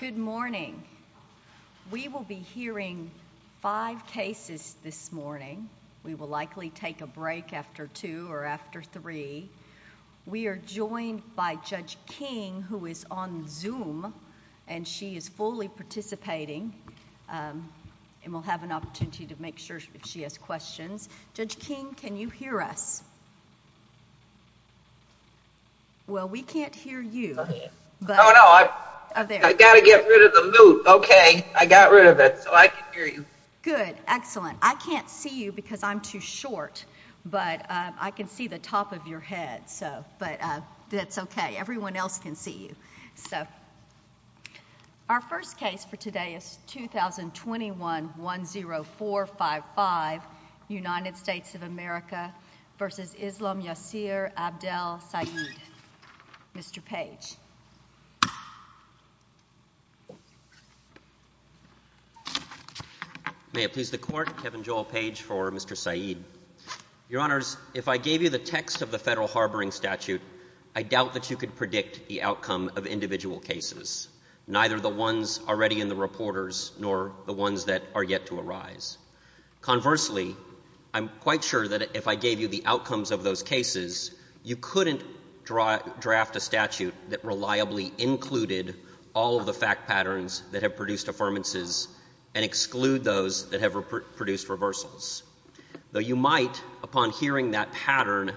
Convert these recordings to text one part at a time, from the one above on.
Good morning. We will be hearing five cases this morning. We will likely take a break after two or after three. We're joined by Judge King, who is on Zoom, and she is fully participating. Um, and we'll have an opportunity to make sure she has questions. Judge King, can you hear us? Well, we can't hear you. Oh, no. I gotta get rid of the loop. Okay. I got rid of it. Good. Excellent. I can't see you because I'm too short, but I can see the top of your head. So but that's okay. Everyone else can see you. So our first case for today is 2021-10455, United States of America v. Islam Yassir Abdel Said. Mr. Page. May it please the Court. Kevin Joel Page for Mr. Said. Your Honors, if I gave you the text of the Federal Harboring Statute, I doubt that you could predict the outcome of individual cases, neither the ones already in the reporters nor the ones that are yet to arise. Conversely, I'm quite sure that if I gave you the outcomes of those cases, you couldn't draft a statute that reliably included all of the fact patterns that have produced affirmances and exclude those that have produced reversals. Though you might, upon hearing that pattern,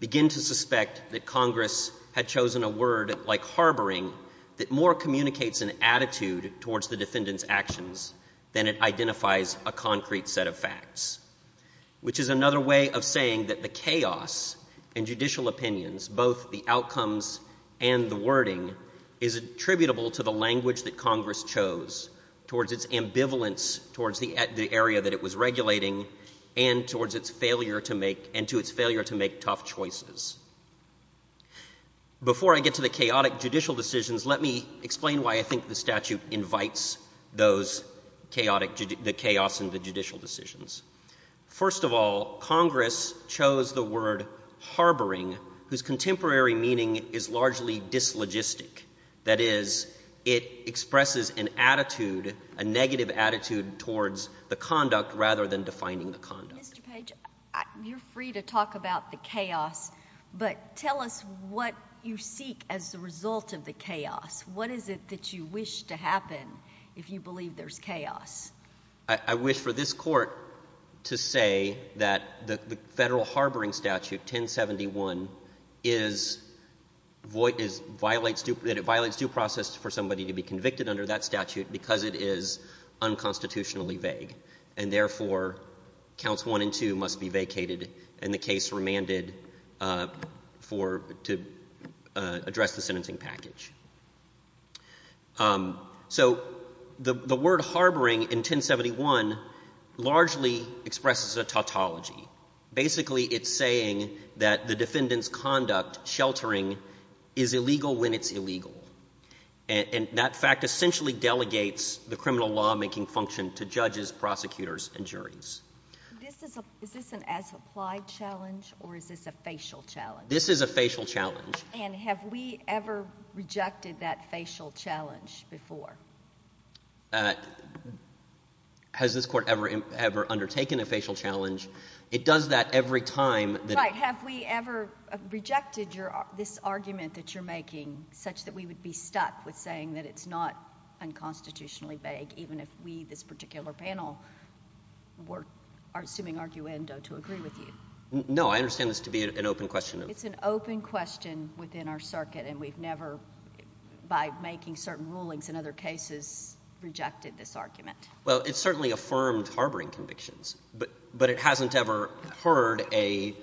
begin to suspect that Congress had chosen a word like harboring that more communicates an attitude towards the defendant's actions than it identifies a concrete set of facts, which is another way of saying that the chaos in judicial opinions, both the outcomes and the wording, is attributable to the language that Congress chose, towards its ambivalence towards the area that it was Before I get to the chaotic judicial decisions, let me explain why I think the statute invites those chaotic, the chaos in the judicial decisions. First of all, Congress chose the word harboring, whose contemporary meaning is largely dislogistic. That is, it expresses an attitude, a negative attitude towards the conduct rather than defining the conduct. Mr. Page, you're free to talk about the chaos, but tell us what you seek as a result of the chaos. What is it that you wish to happen if you believe there's chaos? I wish for this court to say that the federal harboring statute, 1071, is, violates due process for somebody to be convicted under that statute because it is unconstitutionally vague. And therefore, counts one and two must be vacated and the case remanded for, to address the sentencing package. So the word harboring in 1071 largely expresses a tautology. Basically, it's saying that the defendant's conduct, sheltering, is illegal when it's illegal. And that fact essentially delegates the criminal lawmaking function to judges, prosecutors, and juries. Is this an as-applied challenge or is this a facial challenge? This is a facial challenge. And have we ever rejected that facial challenge before? Has this court ever undertaken a facial challenge? It does that every time. Right, have we ever rejected this argument that you're making such that we would be stuck with saying that it's not unconstitutionally vague even if we, this particular panel, were assuming arguendo to agree with you? No, I understand this to be an open question. It's an open question within our circuit and we've never, by making certain rulings in other cases, rejected this argument. Well, it's certainly affirmed harboring convictions, but it hasn't ever heard a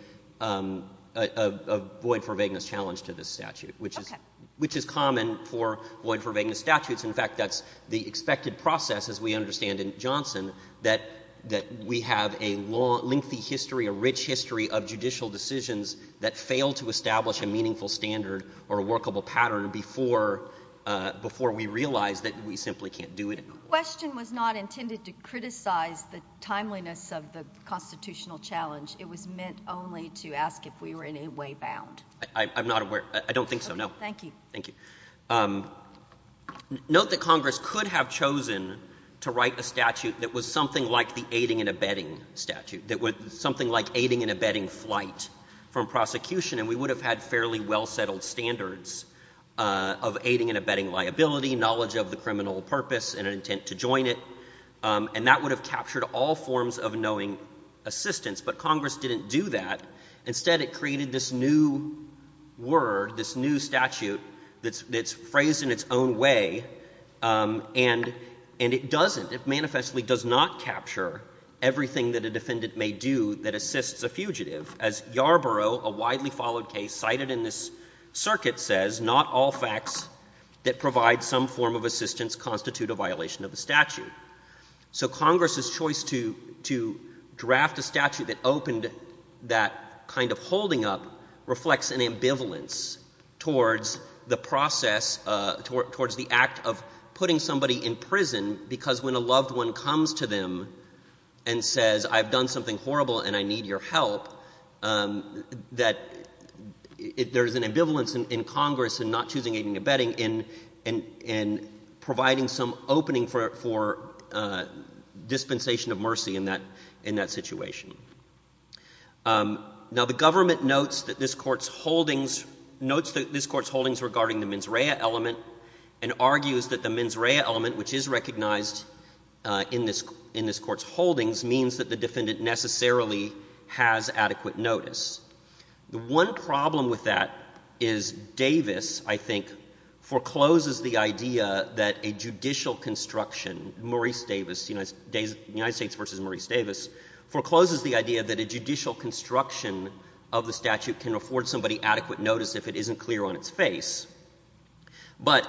void for vagueness challenge to this statute, which is common for void for vagueness statutes. In fact, that's the expected process, as we understand in Johnson, that we have a lengthy history, a rich history of judicial decisions that fail to establish a meaningful standard or a workable pattern before we realize that we simply can't do it. The question was not intended to criticize the timeliness of the constitutional challenge. It was meant only to ask if we were in any way bound. I'm not aware, I don't think so, no. Thank you. Thank you. Note that Congress could have chosen to write a statute that was something like the aiding and abetting statute, that would, something like aiding and abetting flight from prosecution, and we would have had fairly well-settled standards of aiding and abetting liability, knowledge of the criminal purpose and an intent to join it, and that would have captured all forms of knowing assistance, but Congress didn't do that. Instead, it created this new word, this new statute that's phrased in its own way, and it doesn't, it manifestly does not capture everything that a defendant may do that assists a fugitive. As Yarborough, a widely followed case, cited in this circuit says, not all facts that provide some form of assistance constitute a violation of the statute. The fact that it opened that kind of holding up reflects an ambivalence towards the process, towards the act of putting somebody in prison, because when a loved one comes to them and says, I've done something horrible and I need your help, that there's an ambivalence in Congress in not choosing aiding and abetting in providing some opening for dispensation of mercy in that situation. Now, the government notes that this Court's holdings, notes that this Court's holdings regarding the mens rea element and argues that the mens rea element, which is recognized in this Court's holdings, means that the defendant necessarily has adequate notice. The one problem with that is Davis, I think, forecloses the idea that a judicial construction, Maurice Davis, United States v. Maurice Davis, forecloses the idea that a judicial construction of the statute can afford somebody adequate notice if it isn't clear on its face. But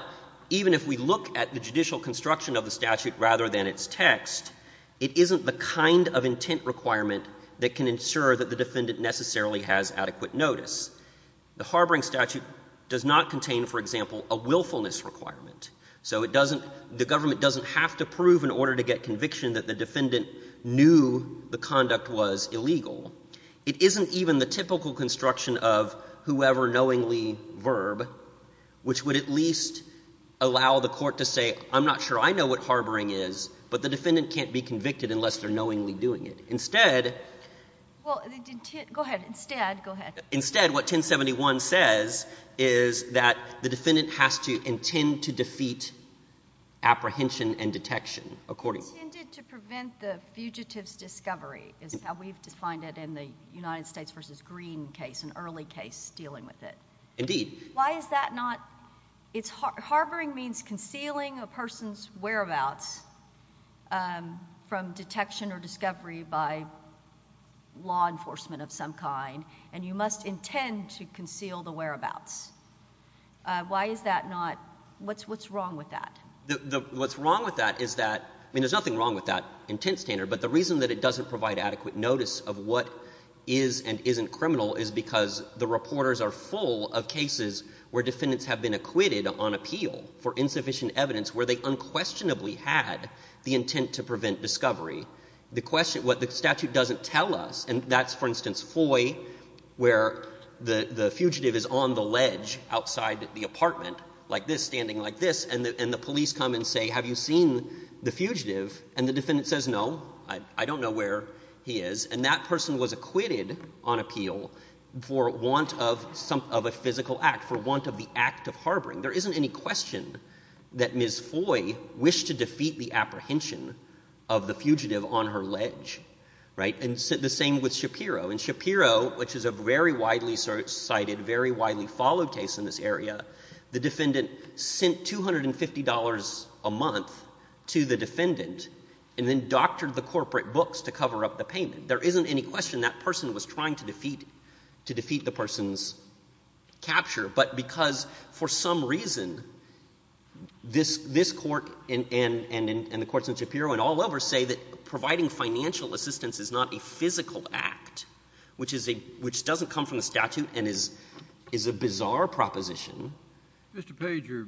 even if we look at the judicial construction of the statute rather than its text, it isn't the kind of intent requirement that can ensure that the defendant necessarily has adequate notice. The harboring statute does not contain, for example, a willfulness requirement. So it doesn't, the government doesn't have to prove in order to get conviction that the defendant knew the conduct was illegal. It isn't even the typical construction of whoever knowingly verb, which would at least allow the Court to say, I'm not sure I know what harboring is, but the defendant can't be convicted unless they're knowingly doing it. Instead... Well, go ahead. Instead, go ahead. ...you intend to defeat apprehension and detection, according... Intended to prevent the fugitive's discovery, is how we've defined it in the United States v. Green case, an early case dealing with it. Indeed. Why is that not, it's, harboring means concealing a person's whereabouts from detection or discovery by law enforcement of some kind, and you must intend to conceal the whereabouts. Why is that not, what's wrong with that? What's wrong with that is that, I mean, there's nothing wrong with that intent standard, but the reason that it doesn't provide adequate notice of what is and isn't criminal is because the reporters are full of cases where defendants have been acquitted on appeal for insufficient evidence where they unquestionably had the intent to prevent discovery. The question, what the statute doesn't tell us, and that's, for instance, Foy, where the fugitive is on the ledge outside the apartment, like this, standing like this, and the police come and say, have you seen the fugitive? And the defendant says, no, I don't know where he is. And that person was acquitted on appeal for want of a physical act, for want of the act of harboring. There isn't any question that Ms. Foy wished to defeat the apprehension of the fugitive on her ledge, right? And the same with Shapiro. And Shapiro, which is a very widely cited, very widely followed case in this area, the defendant sent $250 a month to the defendant and then doctored the corporate books to cover up the payment. There isn't any question that person was trying to defeat the person's capture, but because for some reason this court and the courts in Shapiro and all over say that providing financial assistance is not a physical act, which doesn't come from the statute and is a bizarre proposition. Mr. Pager,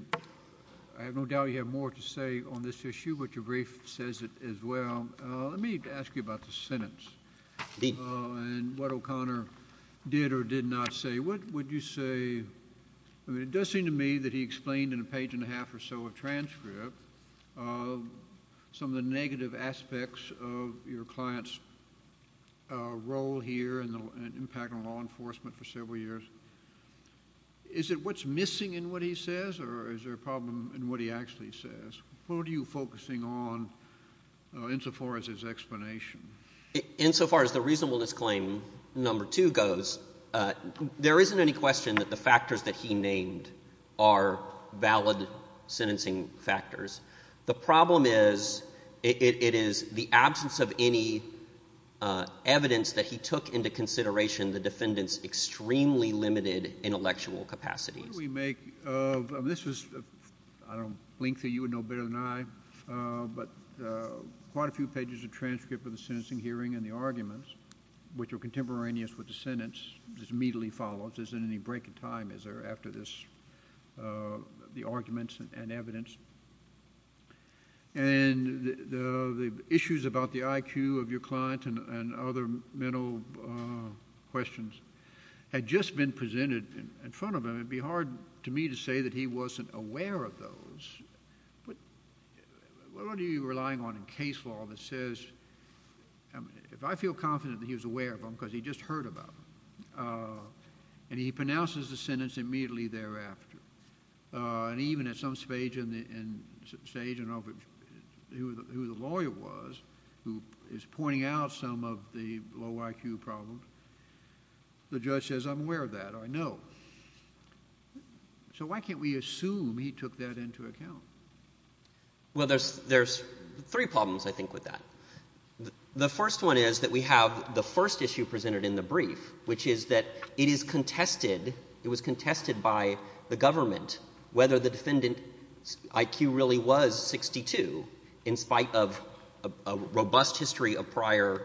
I have no doubt you have more to say on this issue, but your brief says it as well. Let me ask you about the sentence and what O'Connor did or did not say. What would you say? It does seem to me that he explained in a page and a half or so of transcript of some of the negative aspects of your client's role here and the impact on law enforcement for several years. Is it what's missing in what he says or is there a problem in what he actually says? What are you focusing on insofar as his explanation? Insofar as the reasonableness claim number two goes, there isn't any question that the defendant was trying to defeat the person's capture. The problem is it is the absence of any evidence that he took into consideration the defendant's extremely limited intellectual capacities. What do we make of—this is a link that you would know better than I—but quite a few pages of transcript of the sentencing hearing and the arguments, which are contemporaneous with the sentence, which is immediately followed. Is there any break in time? Is there, after this, the arguments and evidence? And the issues about the IQ of your client and other mental questions had just been presented in front of him. It would be hard to me to say that he wasn't aware of those. What are you relying on in case law that says, if I feel confident that he was aware of them because he just heard about them, and he pronounces the sentence immediately thereafter, and even at some stage, who the lawyer was, who is pointing out some of the low IQ problems, the judge says, I'm aware of that, I know. So why can't we assume he took that into account? Well, there's three problems, I think, with that. The first one is that we have the first issue presented in the brief, which is that it is contested, it was contested by the government whether the defendant's IQ really was 62 in spite of a robust history of prior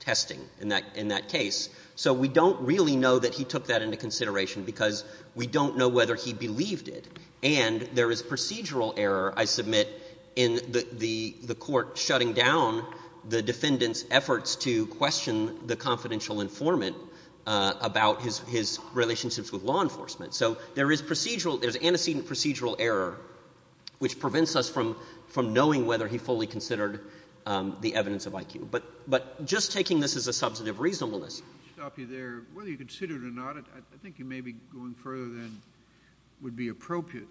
testing in that case. So we don't really know that he took that into consideration because we don't know whether he believed it. And there is procedural error, I submit, in the court shutting down the defendant's efforts to question the confidential informant about his relationships with law enforcement. So there is procedural, there's antecedent procedural error, which prevents us from knowing whether he fully considered the evidence of IQ. But just taking this as a substantive reasonableness. I'll stop you there. Whether he considered it or not, I think you may be going further than would be appropriate.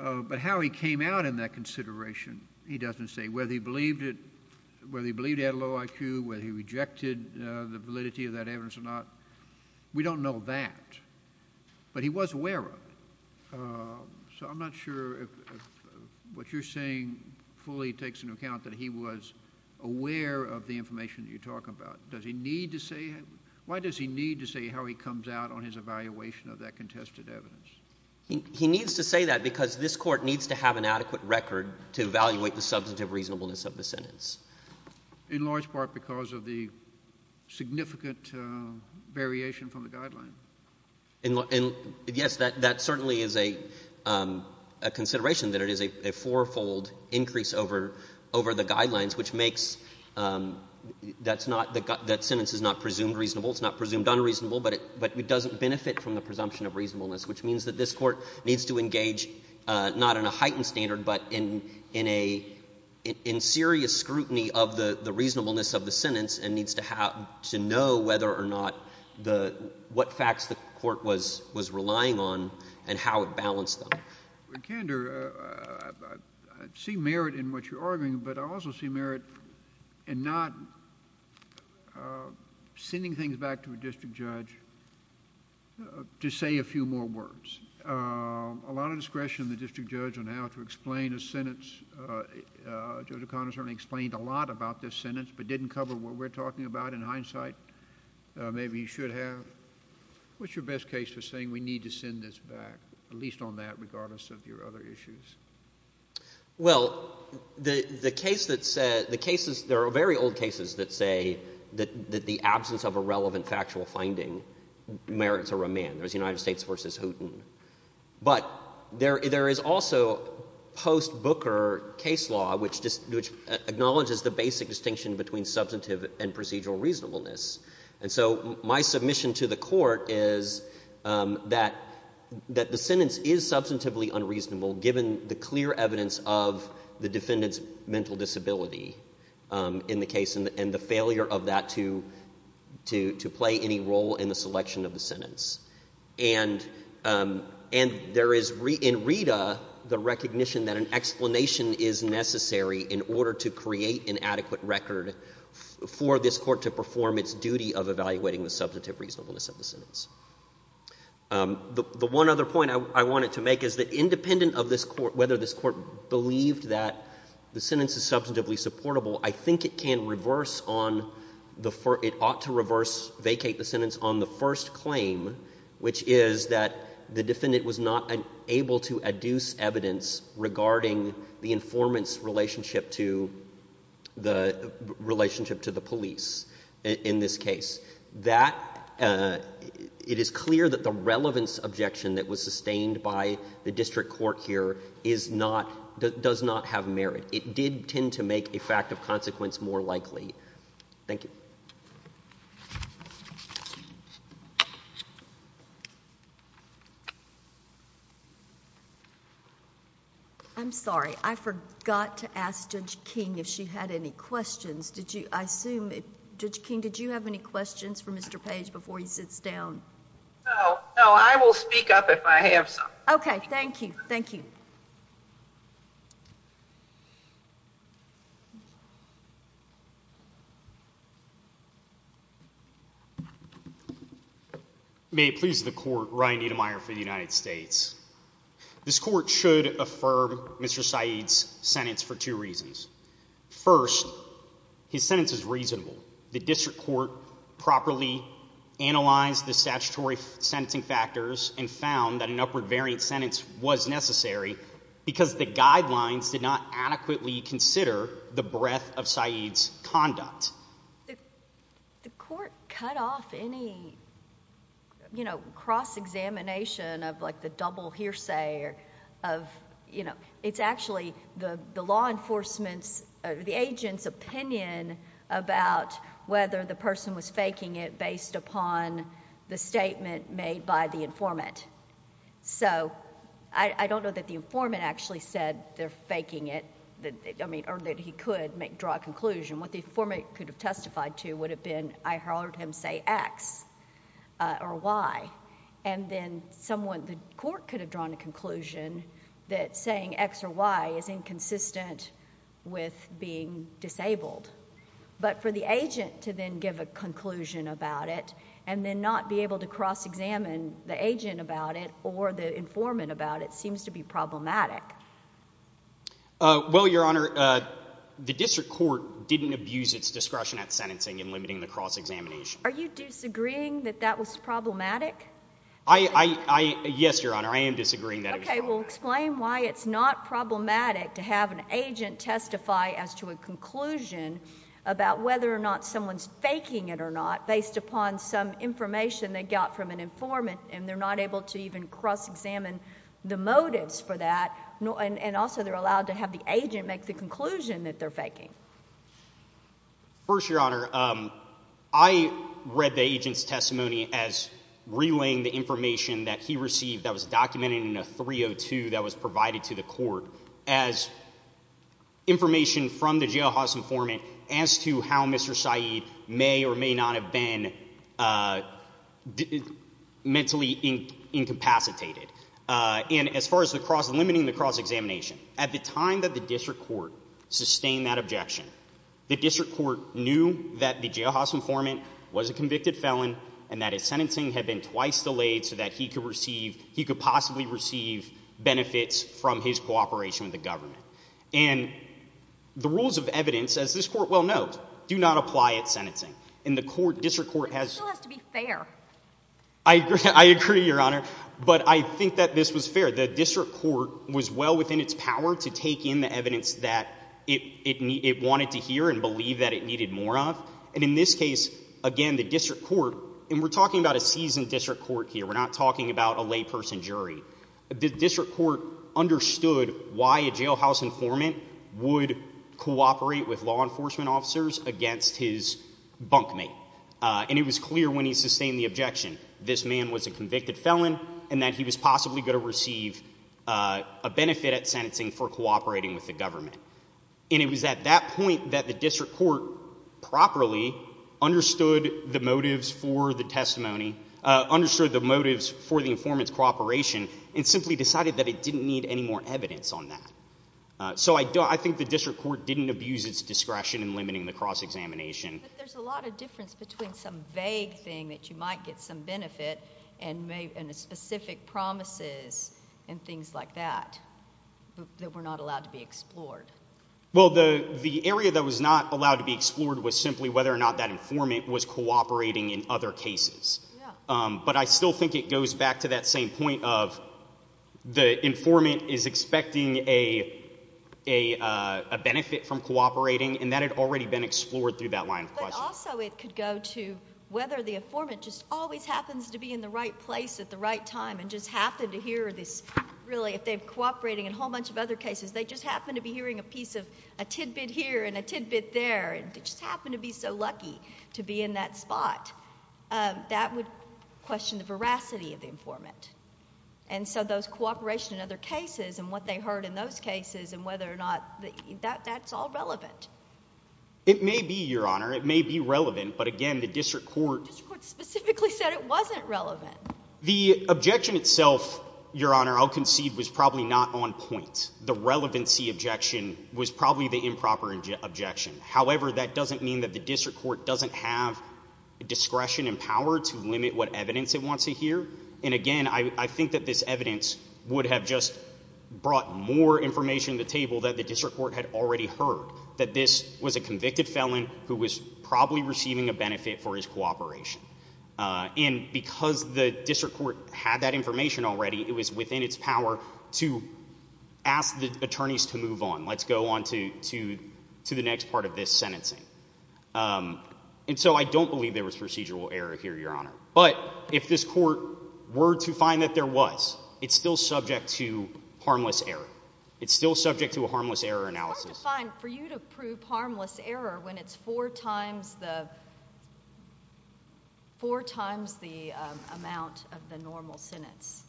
But how he came out in that consideration, he doesn't say, whether he believed it, whether he believed he had a low IQ, whether he rejected the validity of that evidence or not. We don't know that. But he was aware of it. So I'm not sure if what you're saying fully takes into account that he was aware of the information that you're talking about. Does he need to say, why does he need to say how he comes out on his evaluation of that contested evidence? He needs to say that because this court needs to have an adequate record to evaluate the positive reasonableness of the sentence. In large part because of the significant variation from the guidelines. Yes, that certainly is a consideration, that it is a fourfold increase over the guidelines, which makes that sentence is not presumed reasonable, it's not presumed unreasonable, but it doesn't benefit from the presumption of reasonableness, which means that this court needs to engage, not in a heightened standard, but in serious scrutiny of the reasonableness of the sentence and needs to know whether or not, what facts the court was relying on, and how it balanced them. Well, Kander, I see merit in what you're arguing, but I also see merit in not sending things back to a district judge to say a few more words. A lot of discretion in the district judge on how to explain a sentence. Judge O'Connor certainly explained a lot about this sentence, but didn't cover what we're talking about in hindsight. Maybe he should have. What's your best case for saying we need to send this back, at least on that, regardless of your other issues? Well, the case that says, the cases, there are very old cases that say that the absence of a relevant factual finding merits a remand. There's United States v. Houghton. But there is also post-Booker case law, which acknowledges the basic distinction between substantive and procedural reasonableness. And so my submission to the court is that the sentence is substantively unreasonable, given the clear evidence of the defendant's mental disability in the case and the failure of that to play any role in the selection of the sentence. And there is, in Rita, the recognition that an explanation is necessary in order to create an adequate record for this court to perform its duty of evaluating the substantive reasonableness of the sentence. The one other point I wanted to make is that, independent of whether this court believed that the sentence is substantively supportable, I think it can reverse on the first, it ought to reverse, vacate the sentence on the first claim, which is that the defendant was not able to adduce evidence regarding the informant's relationship to the police in this case. That it is clear that the relevance objection that was sustained by the district court here does not have merit. It did tend to make a fact of consequence more likely. Thank you. I'm sorry. I forgot to ask Judge King if she had any questions. I assume, Judge King, did you have any questions for Mr. Page before he sits down? No, I will speak up if I have some. Okay, thank you, thank you. May it please the court, Ryan Niedermeyer for the United States. This court should affirm Mr. Saeed's sentence for two reasons. First, his sentence is reasonable. The district court properly analyzed the statutory sentencing factors and found that an upward variant sentence was necessary because the guidelines did not adequately consider the breadth of Saeed's conduct. The court cut off any, you know, cross-examination of like the double hearsay of, you know, it's actually the law enforcement's, the agent's opinion about whether the person was faking it based upon the statement made by the informant. So, I don't know that the informant actually said they're faking it, I mean, or that he could make, draw a conclusion. What the informant could have testified to would have been, I heard him say X or Y. And then someone, the court could have drawn a conclusion about being disabled. But for the agent to then give a conclusion about it and then not be able to cross-examine the agent about it or the informant about it seems to be problematic. Well, Your Honor, the district court didn't abuse its discretion at sentencing in limiting the cross-examination. Are you disagreeing that that was problematic? I, yes, Your Honor, I am disagreeing that it was problematic. Okay, well explain why it's not problematic to have an agent testify as to a conclusion about whether or not someone's faking it or not based upon some information they got from an informant and they're not able to even cross-examine the motives for that and also they're allowed to have the agent make the conclusion that they're faking. First, Your Honor, I read the agent's testimony as relaying the information that he received that was documented in a 302 that was provided to the court as information from the jailhouse informant as to how Mr. Saeed may or may not have been mentally incapacitated. And as far as the cross-limiting the cross-examination, at the time that the district court sustained that objection, the district court knew that the jailhouse informant was a convicted felon and that his sentencing had been twice delayed so that he could receive, he could possibly receive benefits from his cooperation with the government. And the rules of evidence, as this court well knows, do not apply at sentencing and the court, district court has... But it still has to be fair. I agree, Your Honor, but I think that this was fair. The district court was well within its power to take in the evidence that it wanted to hear and believe that it needed more of. And in this case, again, the district court, and we're talking about a seasoned district court here, we're not talking about a layperson jury, the district court understood why a jailhouse informant would cooperate with law enforcement officers against his bunkmate. And it was clear when he sustained the objection, this man was a convicted felon and that he was possibly going to receive a benefit at sentencing for cooperating with the government. And it was at that point that the district court properly understood the motives for the testimony, understood the motives for the informant's cooperation, and simply decided that it didn't need any more evidence on that. So I think the district court didn't abuse its discretion in limiting the cross-examination. But there's a lot of difference between some vague thing that you might get some benefit and a specific promises and things like that that were not allowed to be explored. Well, the area that was not allowed to be explored was simply whether or not that informant was cooperating in other cases. But I still think it goes back to that same point of the informant is expecting a benefit from cooperating, and that had already been explored through that line of questioning. But also it could go to whether the informant just always happens to be in the right place at the right time and just happened to hear this, really, if they're cooperating in a whole bunch of other cases, they just happen to be hearing a piece of a tidbit here and a tidbit there, and they just happen to be so lucky to be in that spot. That would question the veracity of the informant. And so those cooperation in other cases and what they heard in those cases and whether or not that's all relevant. It may be, Your Honor. It may be relevant. But again, the district court The district court specifically said it wasn't relevant. The objection itself, Your Honor, I'll concede was probably not on point. The relevancy objection was probably the improper objection. However, that doesn't mean that the district court doesn't have discretion and power to limit what evidence it wants to hear. And again, I think that this evidence would have just brought more information to the table that the district court had already heard, that this was a convicted felon who was probably receiving a benefit for his cooperation. And because the district court had that information already, it was within its power to ask the attorneys to move on. Let's go on to the next part of this sentencing. And so I don't believe there was procedural error here, Your Honor. But if this court were to find that there was, it's still subject to harmless error. It's still subject to a harmless error analysis. It's hard to find for you to prove harmless error when it's four times the amount of the normal sentence.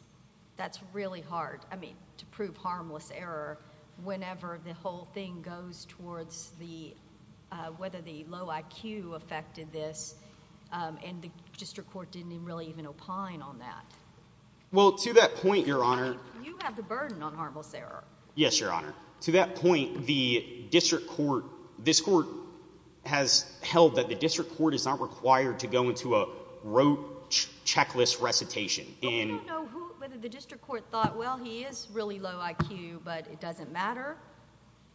That's really hard. I mean, to prove harmless error whenever the whole thing goes towards the whether the low IQ affected this and the district court didn't really even opine on that. Well, to that point, Your Honor, you have the burden on harmless error. Yes, Your Honor. To that point, the district court, this court has held that the district court is not required to go into a rote checklist recitation in whether the district court thought, well, he is really low IQ, but it doesn't matter.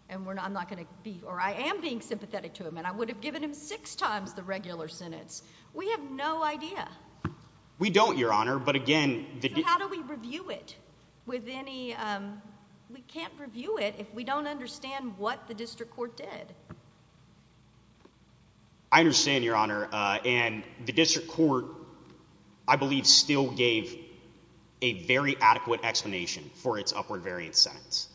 And we're not. I'm not going to be or I am being sympathetic to him, and I would have given him six times the regular sentence. We have no idea. We don't, Your Honor. But again, how do we review it with any? We can't review it if we don't understand what the district court did. I understand, Your Honor. And the district court, I believe, still gave a very adequate explanation for its upward variance sentence.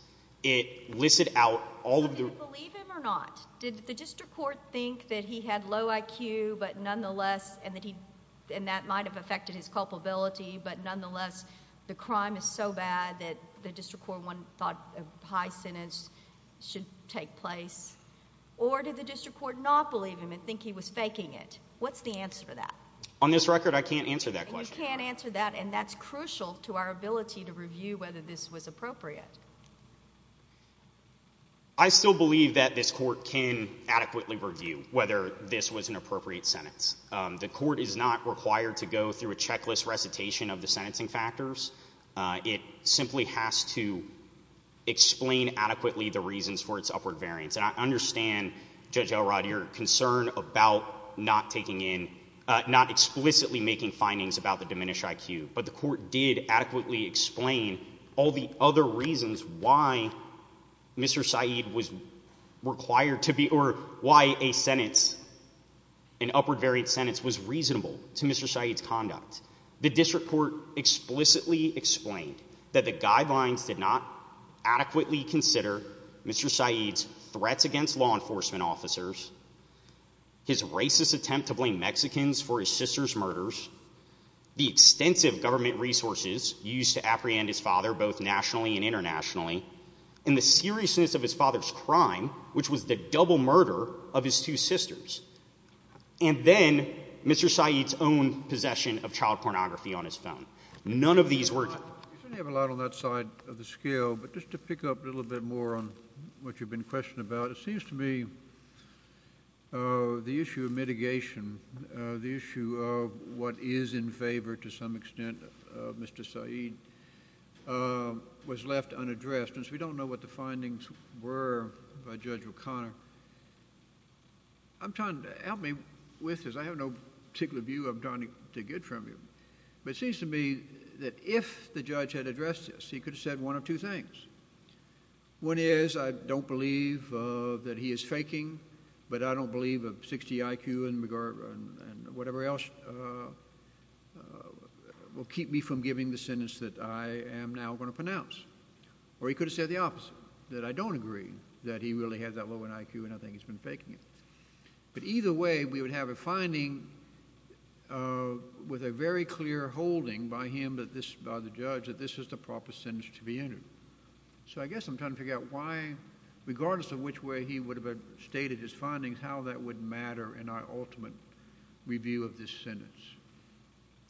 It listed out all of the... Did you believe him or not? Did the district court think that he had low IQ, but nonetheless, and that might have affected his culpability, but nonetheless, the crime is so bad that the district court thought a high sentence should take place? Or did the district court not believe him and think he was faking it? What's the answer to that? On this record, I can't answer that question. You can't answer that, and that's crucial to our ability to review whether this was appropriate. I still believe that this court can adequately review whether this was an appropriate sentence. The court is not required to go through a checklist recitation of the sentencing factors. It simply has to explain adequately the reasons for its upward variance. And I understand, Judge Elrod, your concern about not explicitly making findings about the diminished IQ, but the court did adequately explain all the other reasons why Mr. Syed was required to be... Why a sentence, an upward variance sentence, was reasonable to Mr. Syed's conduct. The district court explicitly explained that the guidelines did not adequately consider Mr. Syed's threats against law enforcement officers, his racist attempt to blame Mexicans for his sister's murders, the extensive government resources used to apprehend his father both nationally and internationally, and the seriousness of his father's crime, which was the double murder of his two sisters, and then Mr. Syed's own possession of child pornography on his phone. None of these were... You certainly have a lot on that side of the scale, but just to pick up a little bit more on what you've been questioning about, it seems to me the issue of mitigation, the issue of what is in favor to some extent of Mr. Syed, was left unaddressed, and so we don't know what the findings were by Judge O'Connor. I'm trying to... Help me with this. I have no particular view I'm trying to get from you, but it seems to me that if the judge had addressed this, he could have said one of two things. One is, I don't believe that he is faking, but I don't believe a 60 IQ and whatever else will keep me from giving the sentence that I am now going to pronounce. Or he could have said the opposite, that I don't agree that he really has that low an IQ and I think he's been faking it. But either way, we would have a finding with a very clear holding by him, by the judge, that this is the proper sentence to be entered. So I guess I'm trying to figure out why, regardless of which way he would have stated his findings, how that would matter in our ultimate review of this sentence.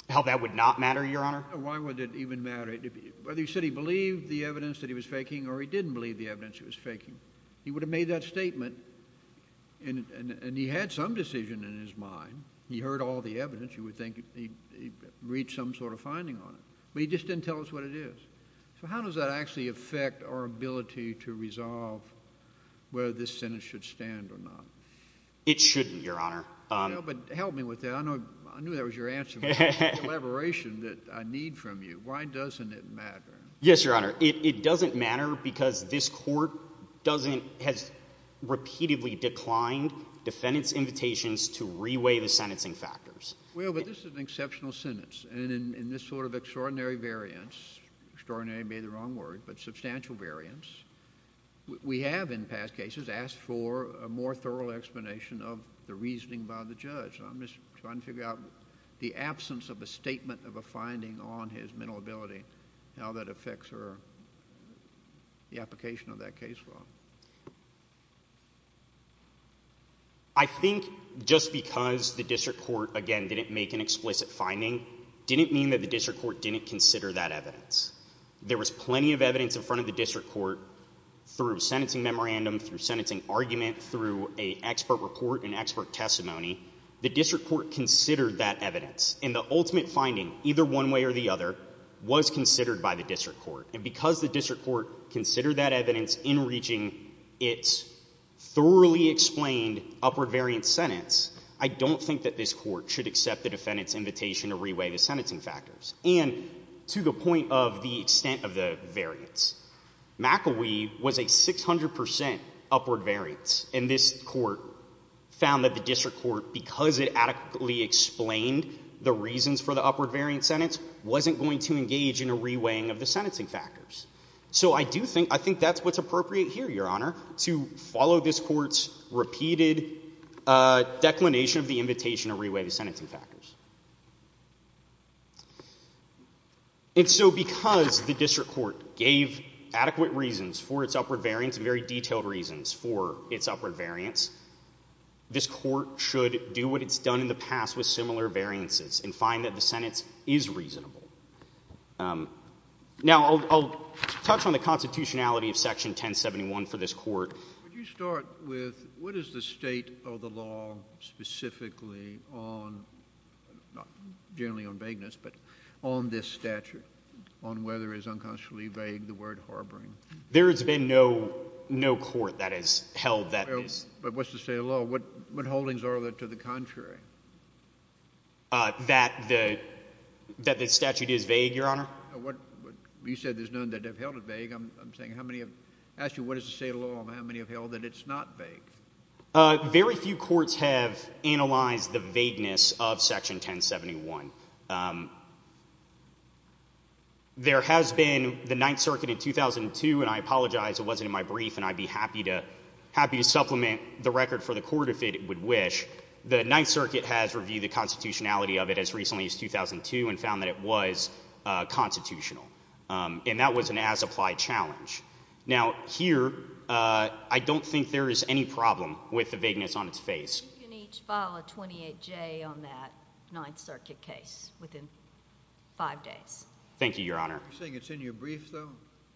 How that would not matter, Your Honor? Why would it even matter? Whether you said he believed the evidence that he was faking or he didn't believe the evidence he was faking, he would have made that statement and he had some decision in his mind. He heard all the evidence. You would think he reached some sort of finding on it, but he just didn't tell us what it is. So how does that actually affect our ability to resolve whether this sentence should stand or not? It shouldn't, Your Honor. But help me with that. I knew that was your answer. The elaboration that I need from you. Why doesn't it matter? Yes, Your Honor. It doesn't matter because this court has repeatedly declined defendant's invitations to reweigh the sentencing factors. Well, but this is an exceptional sentence and in this sort of extraordinary variance, extraordinary may be the wrong word, but substantial variance, we have in past cases asked for a more thorough explanation of the reasoning by the judge. I'm just trying to figure out the absence of a statement of a finding on his mental ability, how that affects the application of that case law. I think just because the district court, again, didn't make an explicit finding, didn't mean that the district court didn't consider that evidence. There was plenty of evidence in front of the district court through sentencing memorandum, through sentencing argument, through a expert report and expert testimony. The district court considered that evidence and the ultimate finding, either one way or the other, was considered by the district court. And because it's thoroughly explained upward variance sentence, I don't think that this court should accept the defendant's invitation to reweigh the sentencing factors. And to the point of the extent of the variance, McElwee was a 600% upward variance and this court found that the district court, because it adequately explained the reasons for the upward variance sentence, wasn't going to engage in a reweighing of the sentencing factors. So I do think, I think that's what's appropriate here, Your Honor, to follow this court's repeated declination of the invitation to reweigh the sentencing factors. And so because the district court gave adequate reasons for its upward variance and very detailed reasons for its upward variance, this court should do what it's done in the past with similar variances and find that the sentence is reasonable. Now, I'll touch on the for this court. Would you start with what is the state of the law specifically on, not generally on vagueness, but on this statute, on whether it is unconscionably vague, the word harboring? There has been no court that has held that. But what's the state of law? What holdings are there to the contrary? That the statute is vague, Your Honor? You said there's have held it vague. I'm saying how many have asked you what is the state of law and how many have held that it's not vague? Very few courts have analyzed the vagueness of Section 1071. There has been the Ninth Circuit in 2002, and I apologize it wasn't in my brief, and I'd be happy to, happy to supplement the record for the court if it would wish. The Ninth Circuit has reviewed the constitutionality of it as recently as 2002 and found that it was constitutional. And that was an as-applied challenge. Now, here, I don't think there is any problem with the vagueness on its face. You can each file a 28J on that Ninth Circuit case within five days. Thank you, Your Honor. You're saying it's in your brief, though?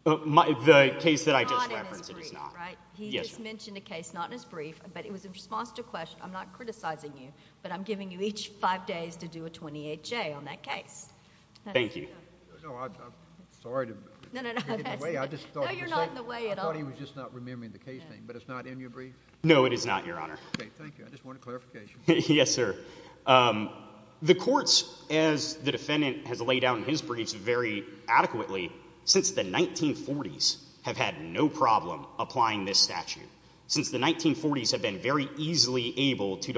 The case that I just referenced, it is not. He just mentioned a case not in his brief, but it was in response to a question. I'm not criticizing you, but I'm giving you each five days to do a 28J on that case. Thank you. No, I'm sorry to get in the way. No, you're not in the way at all. I thought he was just not remembering the case name, but it's not in your brief? No, it is not, Your Honor. Okay, thank you. I just want a clarification. Yes, sir. The courts, as the defendant has laid down in his briefs very adequately, since the 1940s have had no problem applying this statute. Since the 1940s have been very easily able to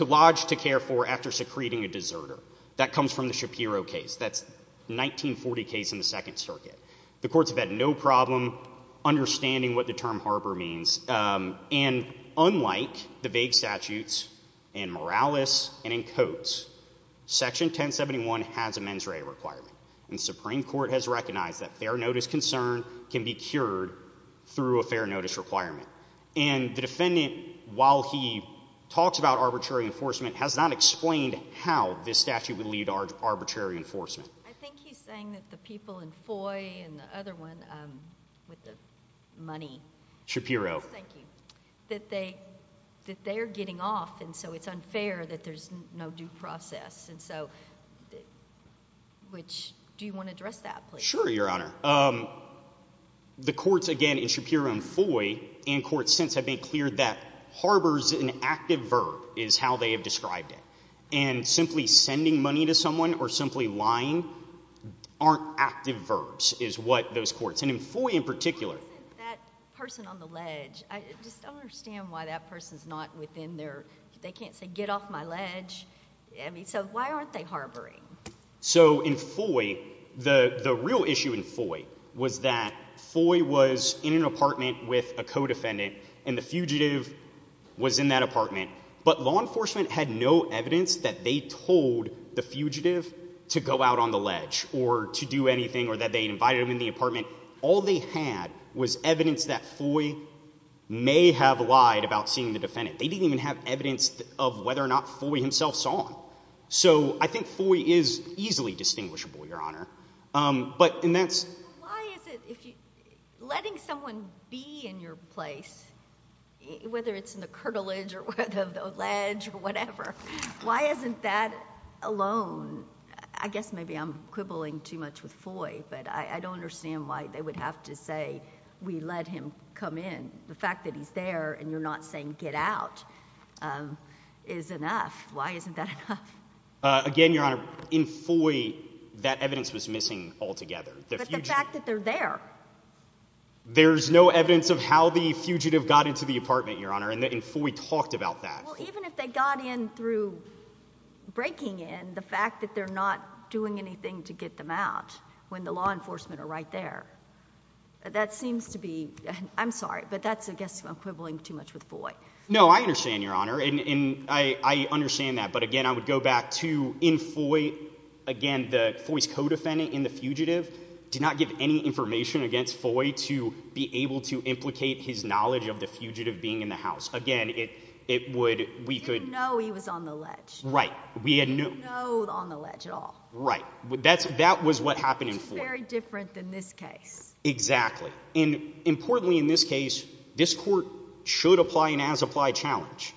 lodge to care for after secreting a deserter. That comes from the Shapiro case. That's the 1940 case in the Second Circuit. The courts have had no problem understanding what the term harbor means, and unlike the vague statutes in Morales and in Coates, Section 1071 has a mens rea requirement, and the Supreme Court has recognized that fair notice concern can be cured through a fair notice requirement. And the defendant, while he talks about arbitrary enforcement, has not explained how this statute would lead to arbitrary enforcement. I think he's saying that the people in Foy and the other one with the money. Shapiro. Thank you. That they are getting off, and so it's unfair that there's no due process. Do you want to address that, please? Sure, Your Honor. The courts, again, in Shapiro and Foy, and courts since have been clear that harbors an active verb is how they have described it. And simply sending money to someone or simply lying aren't active verbs is what those courts, and in Foy in particular. That person on the ledge, I just don't understand why that person's not within their, they can't say get off my ledge. I mean, so why aren't they harboring? So in Foy, the real issue in Foy was that Foy was in an apartment with a co-defendant, and the fugitive was in that apartment. But law enforcement had no evidence that they told the fugitive to go out on the ledge or to do anything or that they invited him in the apartment. All they had was evidence that Foy may have lied about seeing the song. So I think Foy is easily distinguishable, Your Honor. But, and that's... Why is it, letting someone be in your place, whether it's in the curtilage or the ledge or whatever, why isn't that alone? I guess maybe I'm quibbling too much with Foy, but I don't understand why they would have to say, we let him come in. The fact that he's there and you're not saying get out is enough. Why isn't that enough? Again, Your Honor, in Foy, that evidence was missing altogether. But the fact that they're there. There's no evidence of how the fugitive got into the apartment, Your Honor, and Foy talked about that. Well, even if they got in through breaking in, the fact that they're not doing anything to get them out when the law enforcement are right there, that seems to be, I'm sorry, but that's, I guess, I'm quibbling too much with Foy. No, I understand, Your Honor, and I understand that. But again, I would go back to, in Foy, again, the Foy's co-defendant in the fugitive did not give any information against Foy to be able to implicate his knowledge of the fugitive being in the house. Again, it would, we could... He didn't know he was on the ledge. Right. He didn't know he was on the ledge at all. Right. That was what happened in Foy. It's very different than this case. Exactly. And importantly, in this case, this court should apply an as-applied challenge,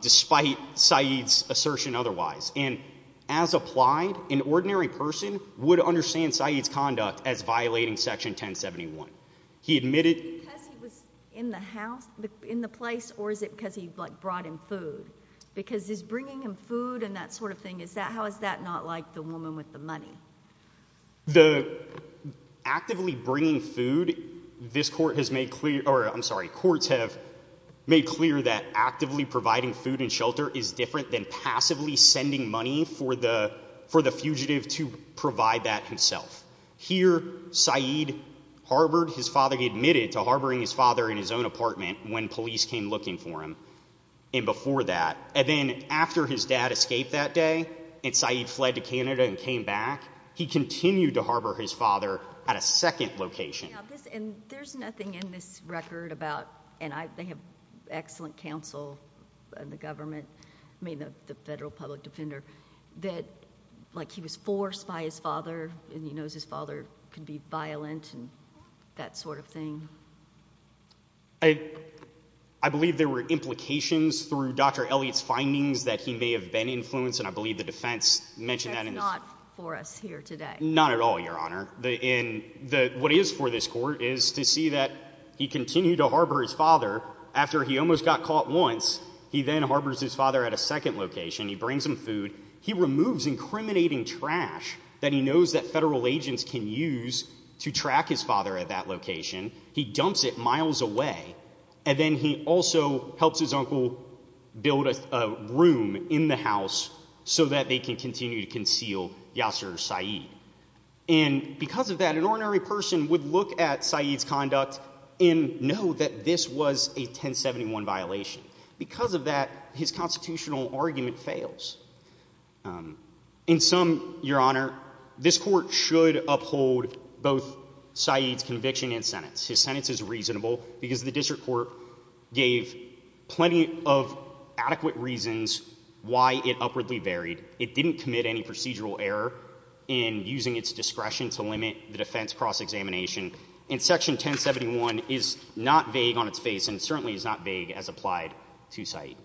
despite Saeed's assertion otherwise. And as applied, an ordinary person would understand Saeed's conduct as violating Section 1071. He admitted... Is it because he was in the house, in the place, or is it because he brought him food? Because he's bringing him food and that bringing food, this court has made clear, or I'm sorry, courts have made clear that actively providing food and shelter is different than passively sending money for the fugitive to provide that himself. Here, Saeed harbored, his father admitted to harboring his father in his own apartment when police came looking for him. And before that, and then after his dad escaped that day and Saeed fled to Canada and came back, he continued to harbor his father at a second location. And there's nothing in this record about... And they have excellent counsel in the government, I mean, the federal public defender, that like he was forced by his father and he knows his father could be violent and that sort of thing. I believe there were implications through Dr. Elliott's findings that he may have been influenced, and I believe the defense mentioned that. That's not for us here today. Not at all, Your Honor. What is for this court is to see that he continued to harbor his father after he almost got caught once. He then harbors his father at a second location. He brings him food. He removes incriminating trash that he knows that federal agents can use to track his father at that location. He dumps it miles away. And then he also helps his uncle build a room in the house so that they can continue to conceal Yasser Saeed. And because of that, an ordinary person would look at Saeed's conduct and know that this was a 1071 violation. Because of that, his constitutional argument fails. In sum, Your Honor, this court should uphold both Saeed's conviction and sentence. His sentence is reasonable because the district court gave plenty of adequate reasons why it upwardly varied. It didn't commit any procedural error in using its discretion to limit the defense cross-examination. And Section 1071 is not vague on its face and certainly is not vague as applied to Saeed.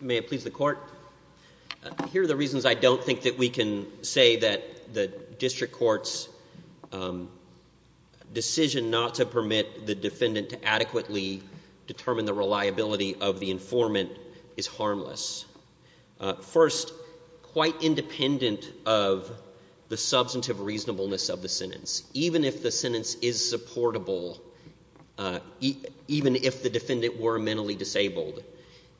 May it please the court. Here are the reasons I don't think that we can say that the district court's decision not to permit the defendant to adequately determine the reliability of the substantive reasonableness of the sentence. Even if the sentence is supportable, even if the defendant were mentally disabled,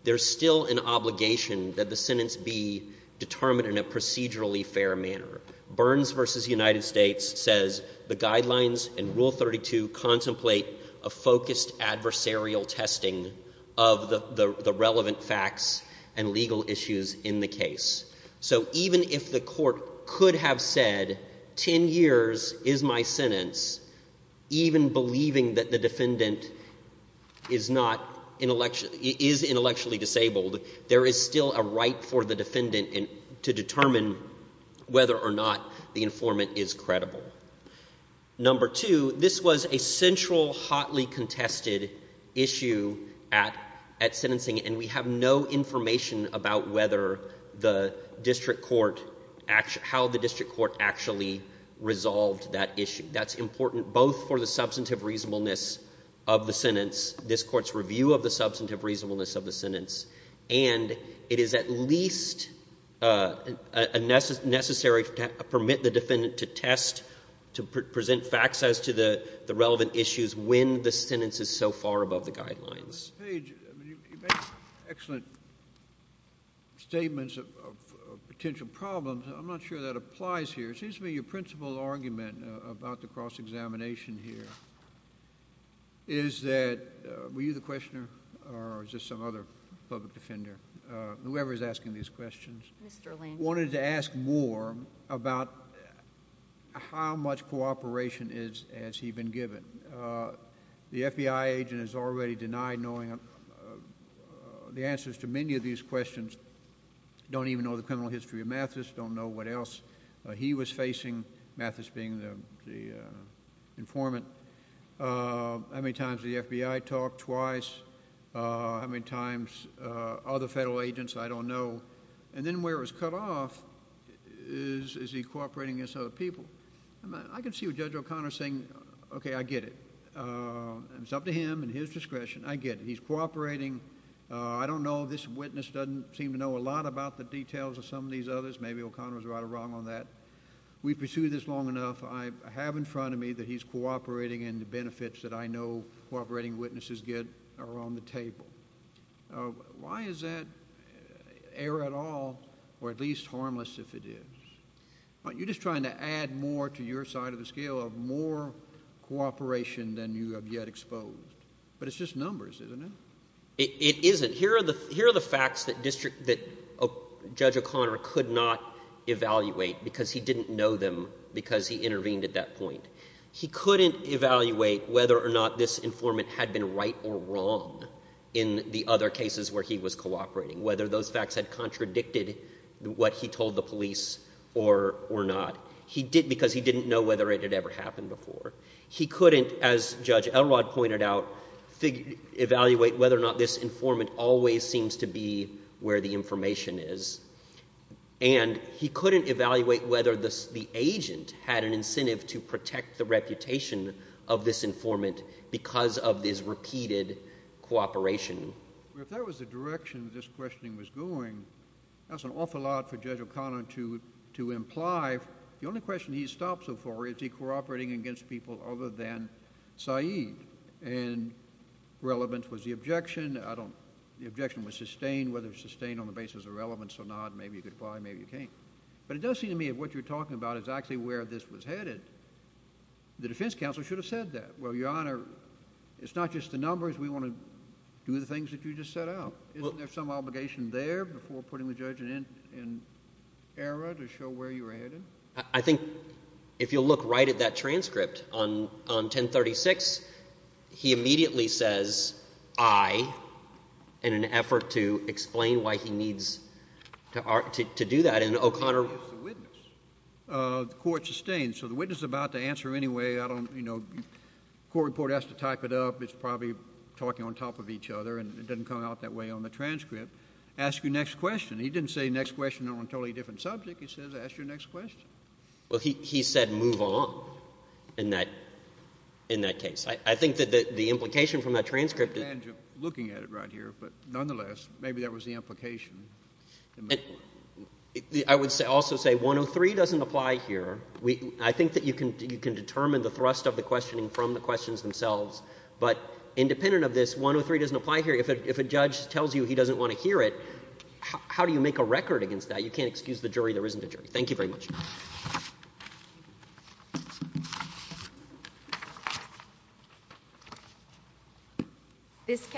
there's still an obligation that the sentence be determined in a procedurally fair manner. Burns v. United States says the guidelines in Rule 32 contemplate a focused adversarial testing of the relevant facts and legal issues in the case. So even if the court could have said, 10 years is my sentence, even believing that the defendant is intellectually disabled, there is still a right for the defendant to determine whether or not the informant is credible. Number two, this was a central, hotly contested issue at sentencing, and we have no information about how the district court actually resolved that issue. That's important both for the substantive reasonableness of the sentence, this court's review of the substantive reasonableness of the sentence, and it is at least necessary to permit the defendant to test, to present facts as to the relevant issues when the sentence is so far above the general assumption. so when you think about formalized sentencing that's not going to make a difference, as the old statute asserted, it's going to make a real difference. Finally, we have excellent the answers to many of these questions. Don't even know the criminal history of Mathis, don't know what else he was facing, Mathis being the the informant. How many times did the FBI talk? Twice. How many times other federal agents? I don't know. And then where it was cut off is is he cooperating against other people? I mean, I can see what Judge O'Connor's saying. Okay, I get it. It's up to him and his discretion. I get it. He's cooperating. I don't know. This witness doesn't seem to know a lot about the details of some of these others. Maybe O'Connor was right or wrong on that. We pursued this long enough. I have in front of me that he's cooperating and the benefits that I know cooperating witnesses get are on the table. Why is that error at all, or at least harmless if it is? You're just trying to add more to your scale of more cooperation than you have yet exposed. But it's just numbers, isn't it? It isn't. Here are the facts that Judge O'Connor could not evaluate because he didn't know them because he intervened at that point. He couldn't evaluate whether or not this informant had been right or wrong in the other cases where he was cooperating, whether those facts had contradicted what he told the police or not, because he didn't know whether it had ever happened before. He couldn't, as Judge Elrod pointed out, evaluate whether or not this informant always seems to be where the information is. And he couldn't evaluate whether the agent had an incentive to protect the reputation of this informant because of this repeated cooperation. Well, if that was the direction this questioning was going, that's an awful lot for Judge O'Connor to imply. The only question he's stopped so far is, is he cooperating against people other than Saeed? And relevance was the objection. The objection was sustained. Whether it's sustained on the basis of relevance or not, maybe you could apply, maybe you can't. But it does seem to me that what you're talking about is actually where this was headed. The defense counsel should have said that. Well, Your Honor, it's not just the numbers. We want to do the things that you just set out. Isn't there some obligation there before putting the judge in error to show where you're headed? I think if you'll look right at that transcript on 1036, he immediately says, I, in an effort to explain why he needs to do that. And O'Connor... It's the witness. The court sustained. So the witness is about to answer anyway. I don't, you know, court report has to type it up. It's probably talking on top of each other, and it doesn't come out that way on the transcript. Ask your next question. He didn't say next question on a totally different subject. He says, ask your next question. Well, he said move on in that case. I think that the implication from that transcript is... Looking at it right here, but nonetheless, maybe that was the implication. I would also say 103 doesn't apply here. I think that you can determine the thrust of the questioning from the questions themselves. But independent of this, 103 doesn't apply here. If a judge tells you he doesn't want to hear it, how do you make a record against that? You can't excuse the jury. There isn't a jury. Thank you very much.